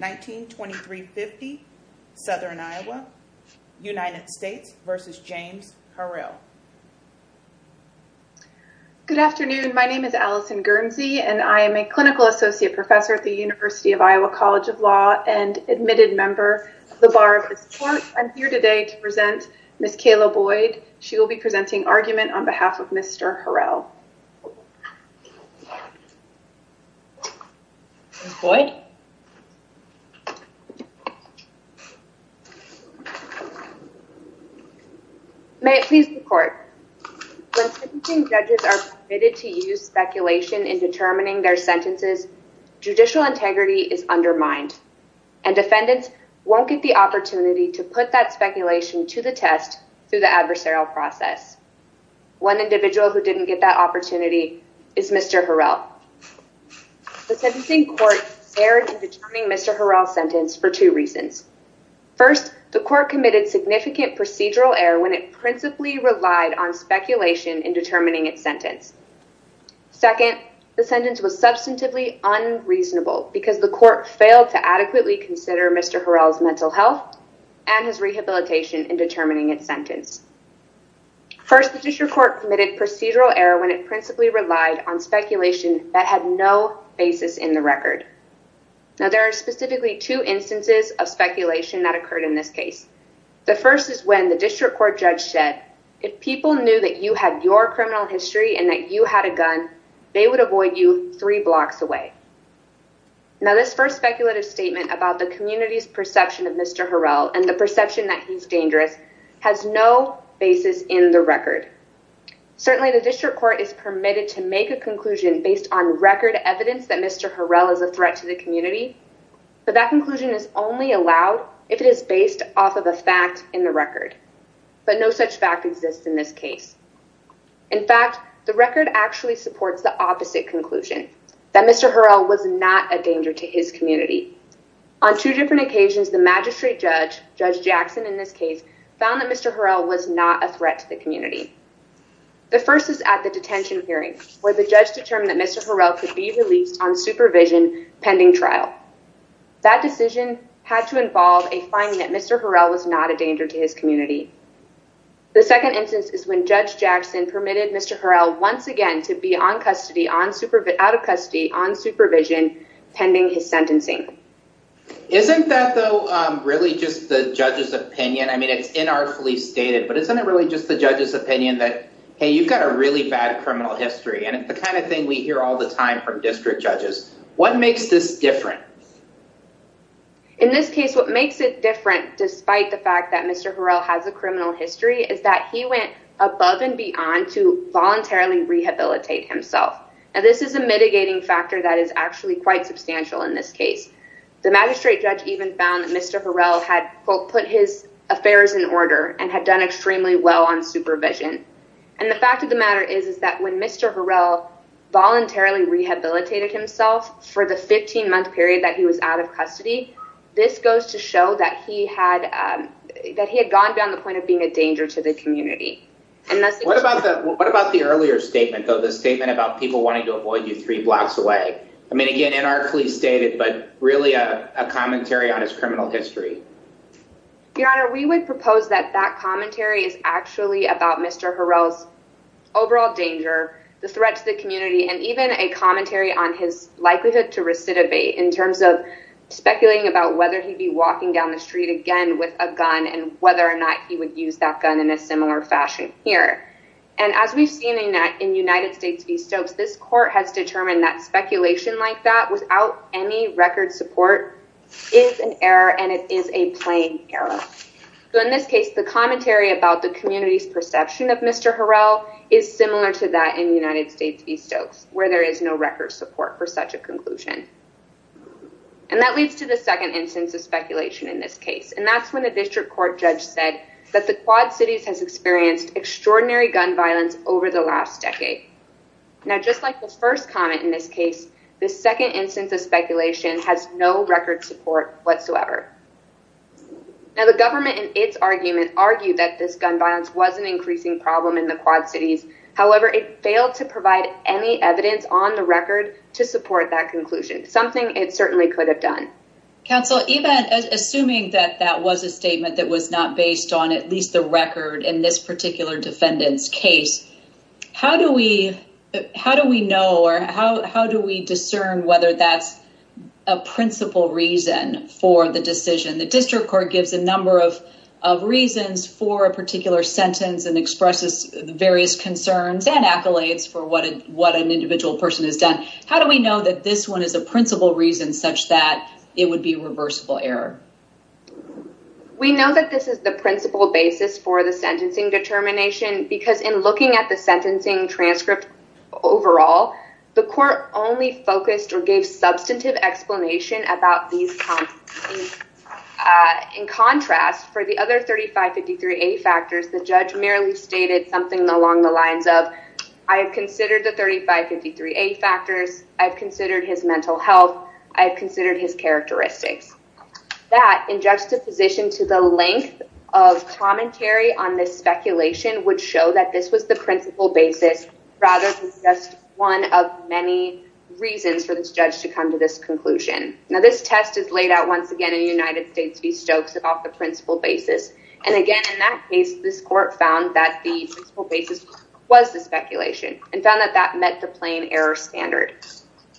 1923-50 Southern Iowa United States versus James Harrell. Good afternoon my name is Allison Guernsey and I am a clinical associate professor at the University of Iowa College of Law and admitted member of the Bar of Support. I'm here today to present Ms. Kayla Boyd. She will be presenting argument on behalf of May it please the court. When sentencing judges are permitted to use speculation in determining their sentences, judicial integrity is undermined and defendants won't get the opportunity to put that speculation to the test through the adversarial process. One individual who didn't get that opportunity is Mr. Harrell. The sentencing court erred in determining Mr. Harrell's sentence for two reasons. First, the court committed significant procedural error when it principally relied on speculation in determining its sentence. Second, the sentence was substantively unreasonable because the court failed to adequately consider Mr. Harrell's mental health and his rehabilitation in determining its sentence. First, the judicial court committed procedural error when it principally relied on substantive error in determining Mr. Harrell's sentence in the record. Now there are specifically two instances of speculation that occurred in this case. The first is when the district court judge said if people knew that you had your criminal history and that you had a gun they would avoid you three blocks away. Now this first speculative statement about the community's perception of Mr. Harrell and the perception that he's dangerous has no basis in the record. Certainly the district court is permitted to make a conclusion based on record evidence that Mr. Harrell is a threat to the community but that conclusion is only allowed if it is based off of a fact in the record. But no such fact exists in this case. In fact, the record actually supports the opposite conclusion that Mr. Harrell was not a danger to his community. On two different occasions the magistrate judge, Judge Jackson in this case, found that Mr. Harrell was not a threat to the community. The first is at the detention hearing where the judge determined that Mr. Harrell could be released on supervision pending trial. That decision had to involve a finding that Mr. Harrell was not a danger to his community. The second instance is when Judge Jackson permitted Mr. Harrell once again to be on custody, out of custody, on probation. Isn't that though really just the judge's opinion? I mean it's inartfully stated but isn't it really just the judge's opinion that hey you've got a really bad criminal history and it's the kind of thing we hear all the time from district judges. What makes this different? In this case what makes it different despite the fact that Mr. Harrell has a criminal history is that he went above and beyond to voluntarily rehabilitate himself. Now this is a mitigating factor that is actually quite substantial in this case. The magistrate judge even found that Mr. Harrell had quote put his affairs in order and had done extremely well on supervision. And the fact of the matter is is that when Mr. Harrell voluntarily rehabilitated himself for the 15-month period that he was out of custody, this goes to show that he had that he had gone down the point of being a danger to the community. What about the earlier statement though, the statement about people wanting to avoid you three blocks away? I mean again inartfully stated but really a commentary on his criminal history. Your Honor, we would propose that that commentary is actually about Mr. Harrell's overall danger, the threat to the community, and even a commentary on his likelihood to recidivate in terms of speculating about whether he'd be walking down the street again with a gun and whether or not he would use that gun in a similar fashion here. And as we've seen in that in United States v. Stokes this court has determined that speculation like that without any record support is an error and it is a plain error. So in this case the commentary about the community's perception of Mr. Harrell is similar to that in United States v. Stokes where there is no record support for such a conclusion. And that leads to the second instance of speculation in this case and that's when the district court judge said that the Quad Cities has experienced extraordinary gun violence over the last decade. Now just like the first comment in this case this second instance of speculation has no record support whatsoever. Now the government in its argument argued that this gun violence was an increasing problem in the Quad Cities, however it failed to provide any evidence on the record to support that conclusion, something it certainly could have done. Counsel, even assuming that that was a statement that was not based on at least the record in this particular defendant's case, how do we how do we know or how how do we discern whether that's a principal reason for the decision? The district court gives a number of reasons for a particular sentence and expresses various concerns and accolades for what an individual person has done. How do we know that this one is a reversible error? We know that this is the principal basis for the sentencing determination because in looking at the sentencing transcript overall the court only focused or gave substantive explanation about these. In contrast for the other 3553A factors the judge merely stated something along the lines of I have considered the 3553A factors, I've considered his mental health, I have considered his mental health, I have considered his mental health, I have considered his mental health. That in juxtaposition to the length of commentary on this speculation would show that this was the principal basis rather than just one of many reasons for this judge to come to this conclusion. Now this test is laid out once again in United States v. Stokes about the principal basis and again in that case this court found that the principal basis was the speculation and found that that met the plain error standard.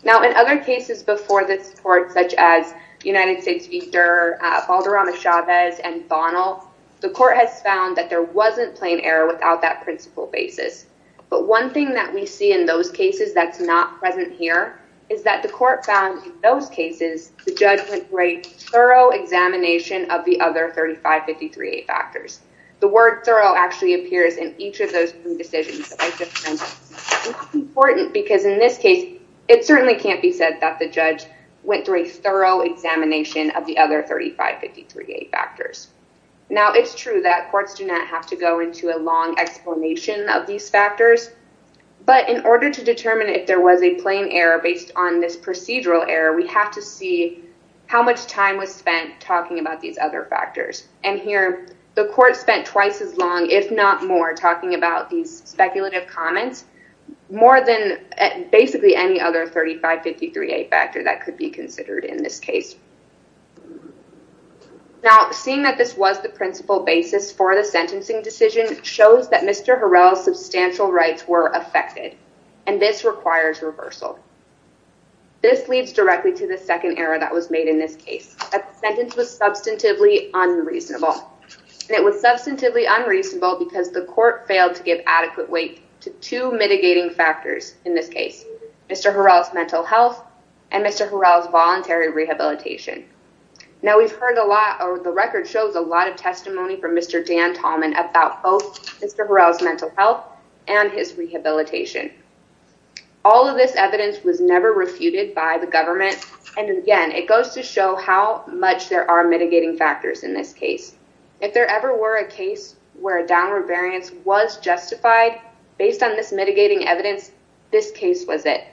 Now in other cases before this court such as United States v. Durr, Valderrama-Chavez and Bonnell, the court has found that there wasn't plain error without that principal basis. But one thing that we see in those cases that's not present here is that the court found in those cases the judge went for a thorough examination of the other 3553A factors. The word thorough actually appears in each of those two decisions important because in this case it certainly can't be said that the judge went through a thorough examination of the other 3553A factors. Now it's true that courts do not have to go into a long explanation of these factors but in order to determine if there was a plain error based on this procedural error we have to see how much time was spent talking about these other factors and here the court spent twice as long if not more talking about these speculative comments more than basically any other 3553A factor that could be considered in this case. Now seeing that this was the principal basis for the sentencing decision shows that Mr. Harrell's substantial rights were affected and this requires reversal. This leads directly to the second error that was rehabilitation. Now this was found to be unreasonable. It was substantively unreasonable because the court failed to give adequate weight to two mitigating factors in this case. Mr. Harrell's mental health and Mr. Harrell's voluntary rehabilitation. Now we've heard a lot or the record shows a lot of testimony from Mr. Dan Tallman about both Mr. Harrell's mental health and his this case. If there ever were a case where a downward variance was justified based on this mitigating evidence this case was it.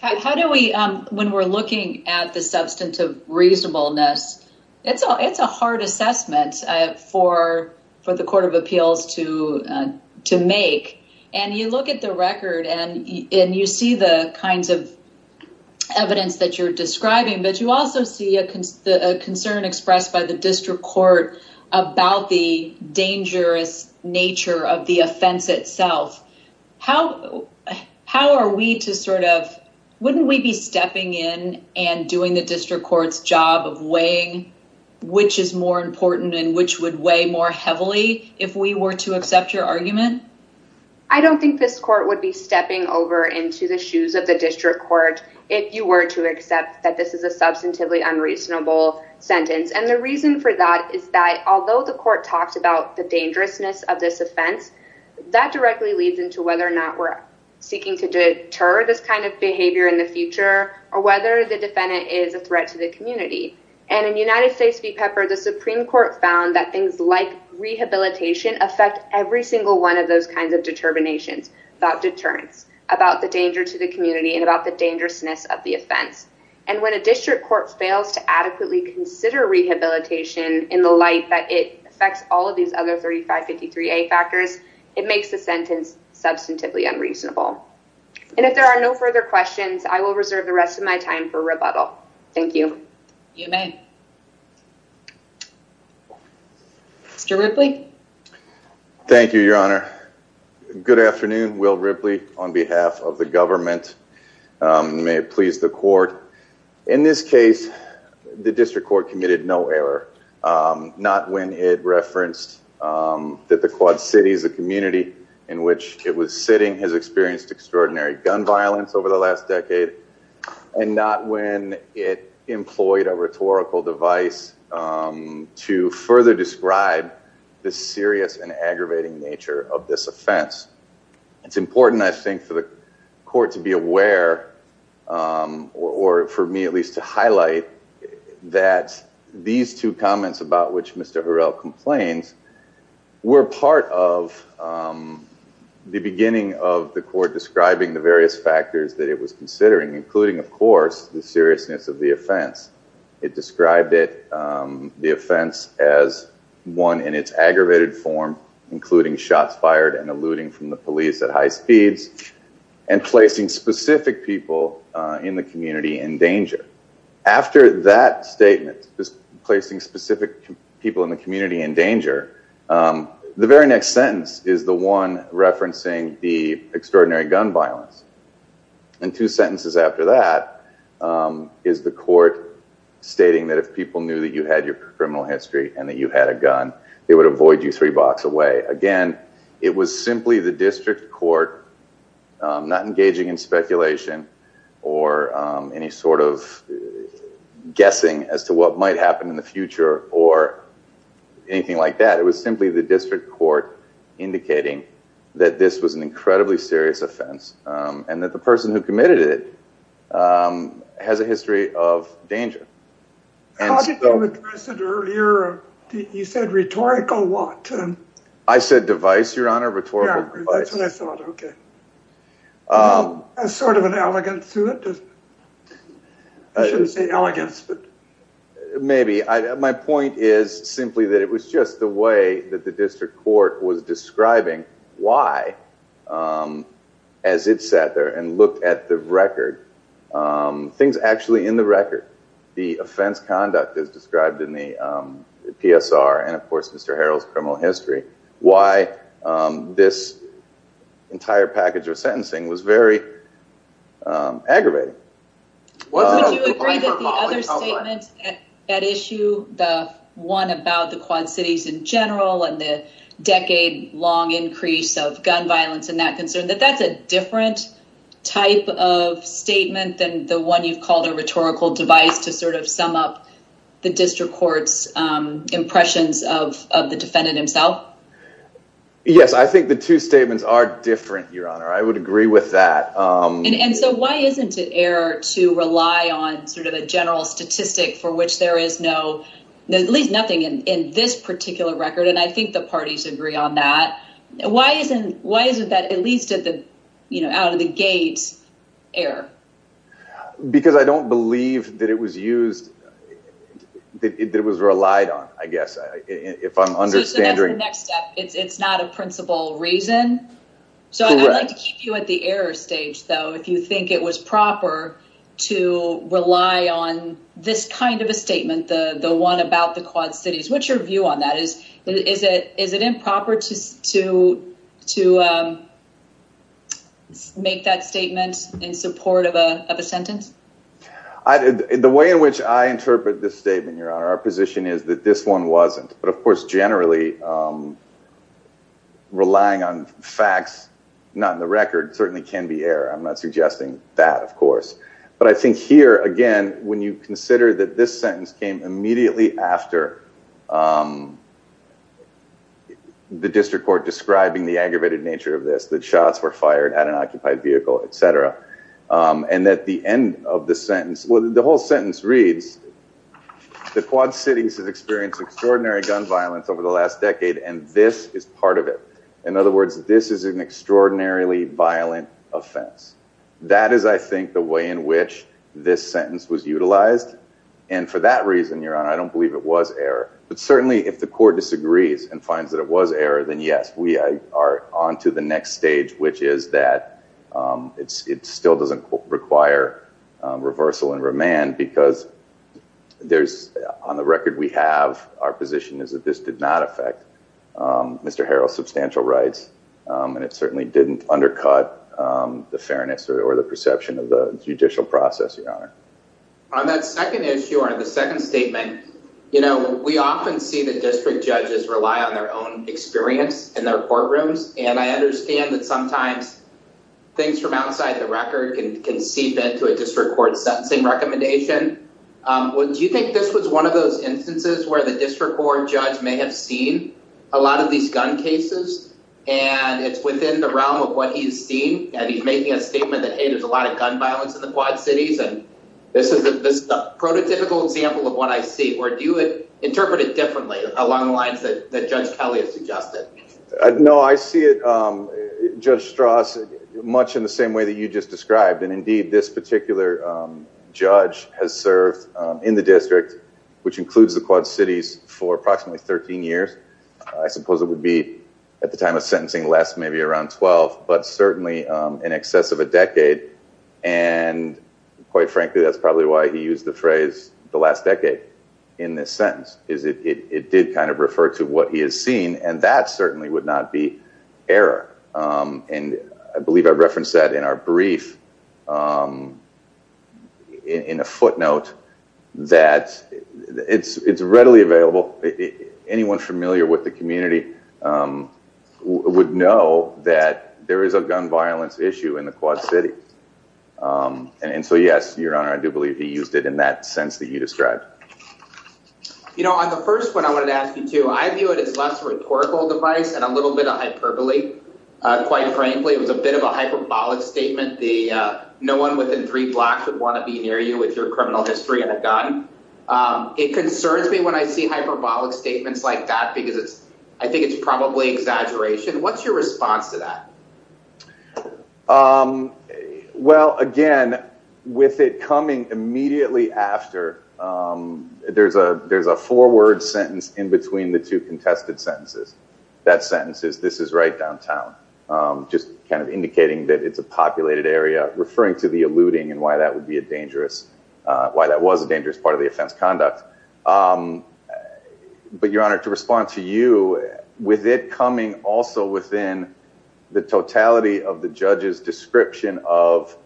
How do we when we're looking at the substantive reasonableness it's a it's a hard assessment for for the Court of Appeals to to make and you look at the record and you see the kinds of evidence that you're describing but you also see a concern expressed by the district court about the dangerous nature of the offense itself. How how are we to sort of wouldn't we be stepping in and doing the district court's job of weighing which is more important and which would weigh more heavily if we were to accept your argument? I don't think this court would be stepping over into the shoes of the district court if you were to accept that this is a that is that although the court talks about the dangerousness of this offense that directly leads into whether or not we're seeking to deter this kind of behavior in the future or whether the defendant is a threat to the community. And in United States v. Pepper the Supreme Court found that things like rehabilitation affect every single one of those kinds of determinations about deterrence, about the danger to the community, and about the dangerousness of the offense. And when a district court fails to adequately consider rehabilitation in the light that it affects all of these other 3553 A factors it makes the sentence substantively unreasonable. And if there are no further questions I will reserve the rest of my time for rebuttal. Thank you. You may. Mr. Ripley. Thank you Your Honor. Good afternoon. Will Ripley on behalf of the government. May it please the court. In this case the district court committed no error. Not when it referenced that the Quad Cities the community in which it was sitting has experienced extraordinary gun violence over the last decade and not when it employed a rhetorical device to further describe the serious and aggravating nature of this offense. It's important I least to highlight that these two comments about which Mr. Harrell complains were part of the beginning of the court describing the various factors that it was considering including of course the seriousness of the offense. It described it the offense as one in its aggravated form including shots fired and eluding from the police at high speeds and placing specific people in the community in danger. The very next sentence is the one referencing the extraordinary gun violence. And two sentences after that is the court stating that if people knew that you had your criminal history and that you had a gun they would avoid you three blocks away. Again, it was simply the district court not engaging in speculation or any sort of guessing as to what might happen in the future or anything like that. It was simply the district court indicating that this was an incredibly serious offense and that the person who committed it has a history of danger. You said rhetorical what? I said device your honor rhetorical device. Sort of an elegance to it. I shouldn't say elegance. Maybe. My point is simply that it was just the way that the district court was describing why as it sat there and looked at the record, things actually in the record, the offense conduct as described in the PSR and of why this entire package of sentencing was very aggravating. Would you agree that the other statement at issue, the one about the Quad Cities in general and the decade-long increase of gun violence and that concern, that that's a different type of statement than the one you've called a rhetorical device to sort of sum up the district court's impressions of the defendant himself? Yes I think the two statements are different your honor. I would agree with that. And so why isn't it error to rely on sort of a general statistic for which there is no, at least nothing in this particular record and I think the parties agree on that. Why isn't that at least at the you know out of the gate error? Because I don't believe that it was used, that it was relied on I understand. It's not a principal reason. So I'd like to keep you at the error stage though if you think it was proper to rely on this kind of a statement, the the one about the Quad Cities. What's your view on that? Is it improper to make that statement in support of a sentence? The way in which I interpret this statement your honor, our position is that this one wasn't but of generally relying on facts not in the record certainly can be error. I'm not suggesting that of course. But I think here again when you consider that this sentence came immediately after the district court describing the aggravated nature of this, that shots were fired at an occupied vehicle, etc. And that the end of the sentence, well the whole sentence reads, the Quad Cities has experienced extraordinary gun violence over the last decade and this is part of it. In other words this is an extraordinarily violent offense. That is I think the way in which this sentence was utilized and for that reason your honor I don't believe it was error. But certainly if the court disagrees and finds that it was error then yes we are on to the next stage which is that it still doesn't require reversal and remand because there's on the record we have our position is that this did not affect Mr. Harrell's substantial rights and it certainly didn't undercut the fairness or the perception of the judicial process your honor. On that second issue or the second statement you know we often see the district judges rely on their own experience in their courtrooms and I district court sentencing recommendation. Do you think this was one of those instances where the district court judge may have seen a lot of these gun cases and it's within the realm of what he's seen and he's making a statement that hey there's a lot of gun violence in the Quad Cities and this is a prototypical example of what I see or do you interpret it differently along the lines that Judge Kelly has suggested? No I see it Judge Strauss much in the particular judge has served in the district which includes the Quad Cities for approximately 13 years I suppose it would be at the time of sentencing less maybe around 12 but certainly in excess of a decade and quite frankly that's probably why he used the phrase the last decade in this sentence is it did kind of refer to what he has seen and that certainly would not be error and I in a footnote that it's it's readily available anyone familiar with the community would know that there is a gun violence issue in the Quad City and so yes your honor I do believe he used it in that sense that you described. You know on the first one I wanted to ask you too I view it as less rhetorical device and a little bit of hyperbole quite frankly it was a bit of a it concerns me when I see hyperbolic statements like that because it's I think it's probably exaggeration what's your response to that? Well again with it coming immediately after there's a there's a four-word sentence in between the two contested sentences that sentence is this is right downtown just kind of indicating that it's a populated area referring to the alluding and why that would be a dangerous why that was a dangerous part of the offense conduct but your honor to respond to you with it coming also within the totality of the judge's description of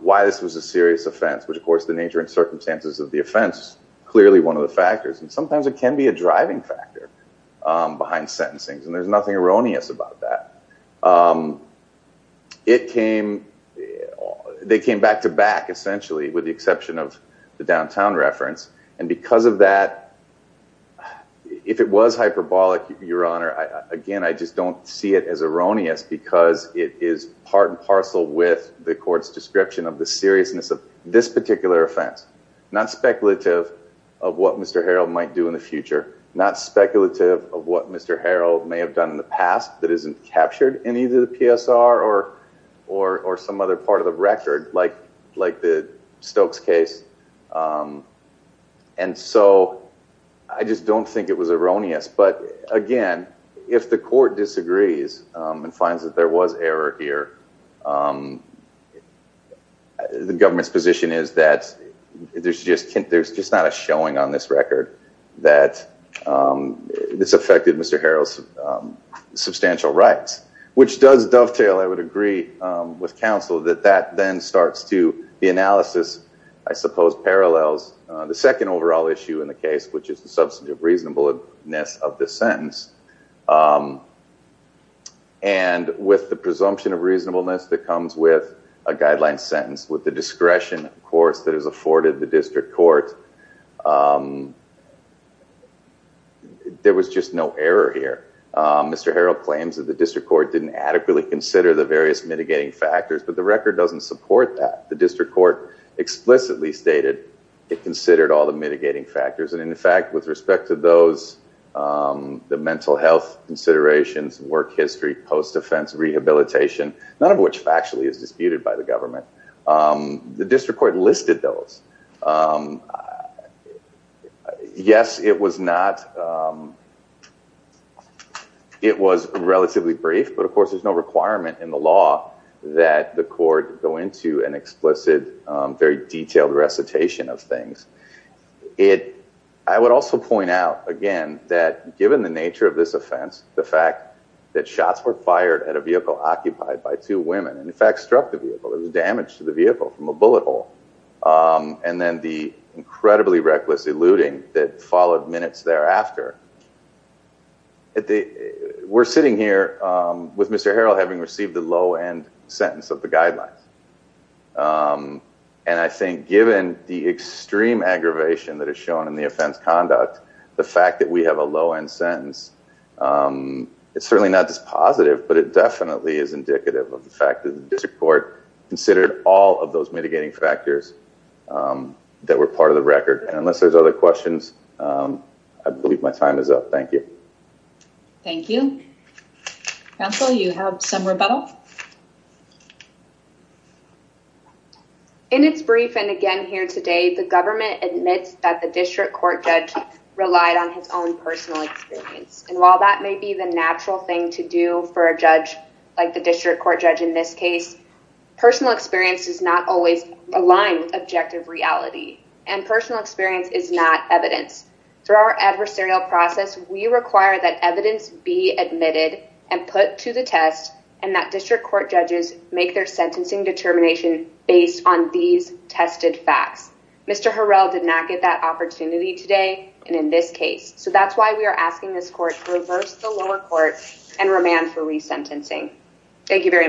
why this was a serious offense which of course the nature and circumstances of the offense clearly one of the factors and sometimes it can be a driving factor behind sentencing's and there's nothing erroneous about that it came they came back to back essentially with the exception of the downtown reference and because of that if it was hyperbolic your honor again I just don't see it as erroneous because it is part and parcel with the court's description of the seriousness of this particular offense not speculative of what mr. Harrell might do in the future not speculative of what mr. Harrell may have done in the past that isn't captured in either the PSR or or or some other part of the record like like the Stokes case and so I just don't think it was erroneous but again if the court disagrees and finds that there was error here the government's position is that there's just there's just not a showing on this record that this affected mr. Harrell's substantial rights which does dovetail I would agree with counsel that that then starts to the analysis I suppose parallels the second overall issue in the case which is the substance of reasonableness of the sentence and with the presumption of reasonableness that comes with a guideline sentence with the court there was just no error here mr. Harrell claims that the district court didn't adequately consider the various mitigating factors but the record doesn't support that the district court explicitly stated it considered all the mitigating factors and in fact with respect to those the mental health considerations work history post-offense rehabilitation none of which actually is yes it was not it was relatively brief but of course there's no requirement in the law that the court go into an explicit very detailed recitation of things it I would also point out again that given the nature of this offense the fact that shots were fired at a vehicle occupied by two women in fact struck the vehicle there was damage to the vehicle from a bullet hole and then the incredibly reckless eluding that followed minutes thereafter at the we're sitting here with mr. Harrell having received the low-end sentence of the guidelines and I think given the extreme aggravation that is shown in the offense conduct the fact that we have a low-end sentence it's certainly not this positive but it definitely is indicative of the fact that the district court considered all of those mitigating factors that were part of the record and unless there's other questions I believe my time is up thank you thank you counsel you have some rebuttal in its brief and again here today the government admits that the district court judge relied on his own personal experience and while that may be the natural thing to do for a judge like the experience does not always align with objective reality and personal experience is not evidence through our adversarial process we require that evidence be admitted and put to the test and that district court judges make their sentencing determination based on these tested facts mr. Harrell did not get that opportunity today and in this case so that's why we are asking this court and remand for resentencing thank you very much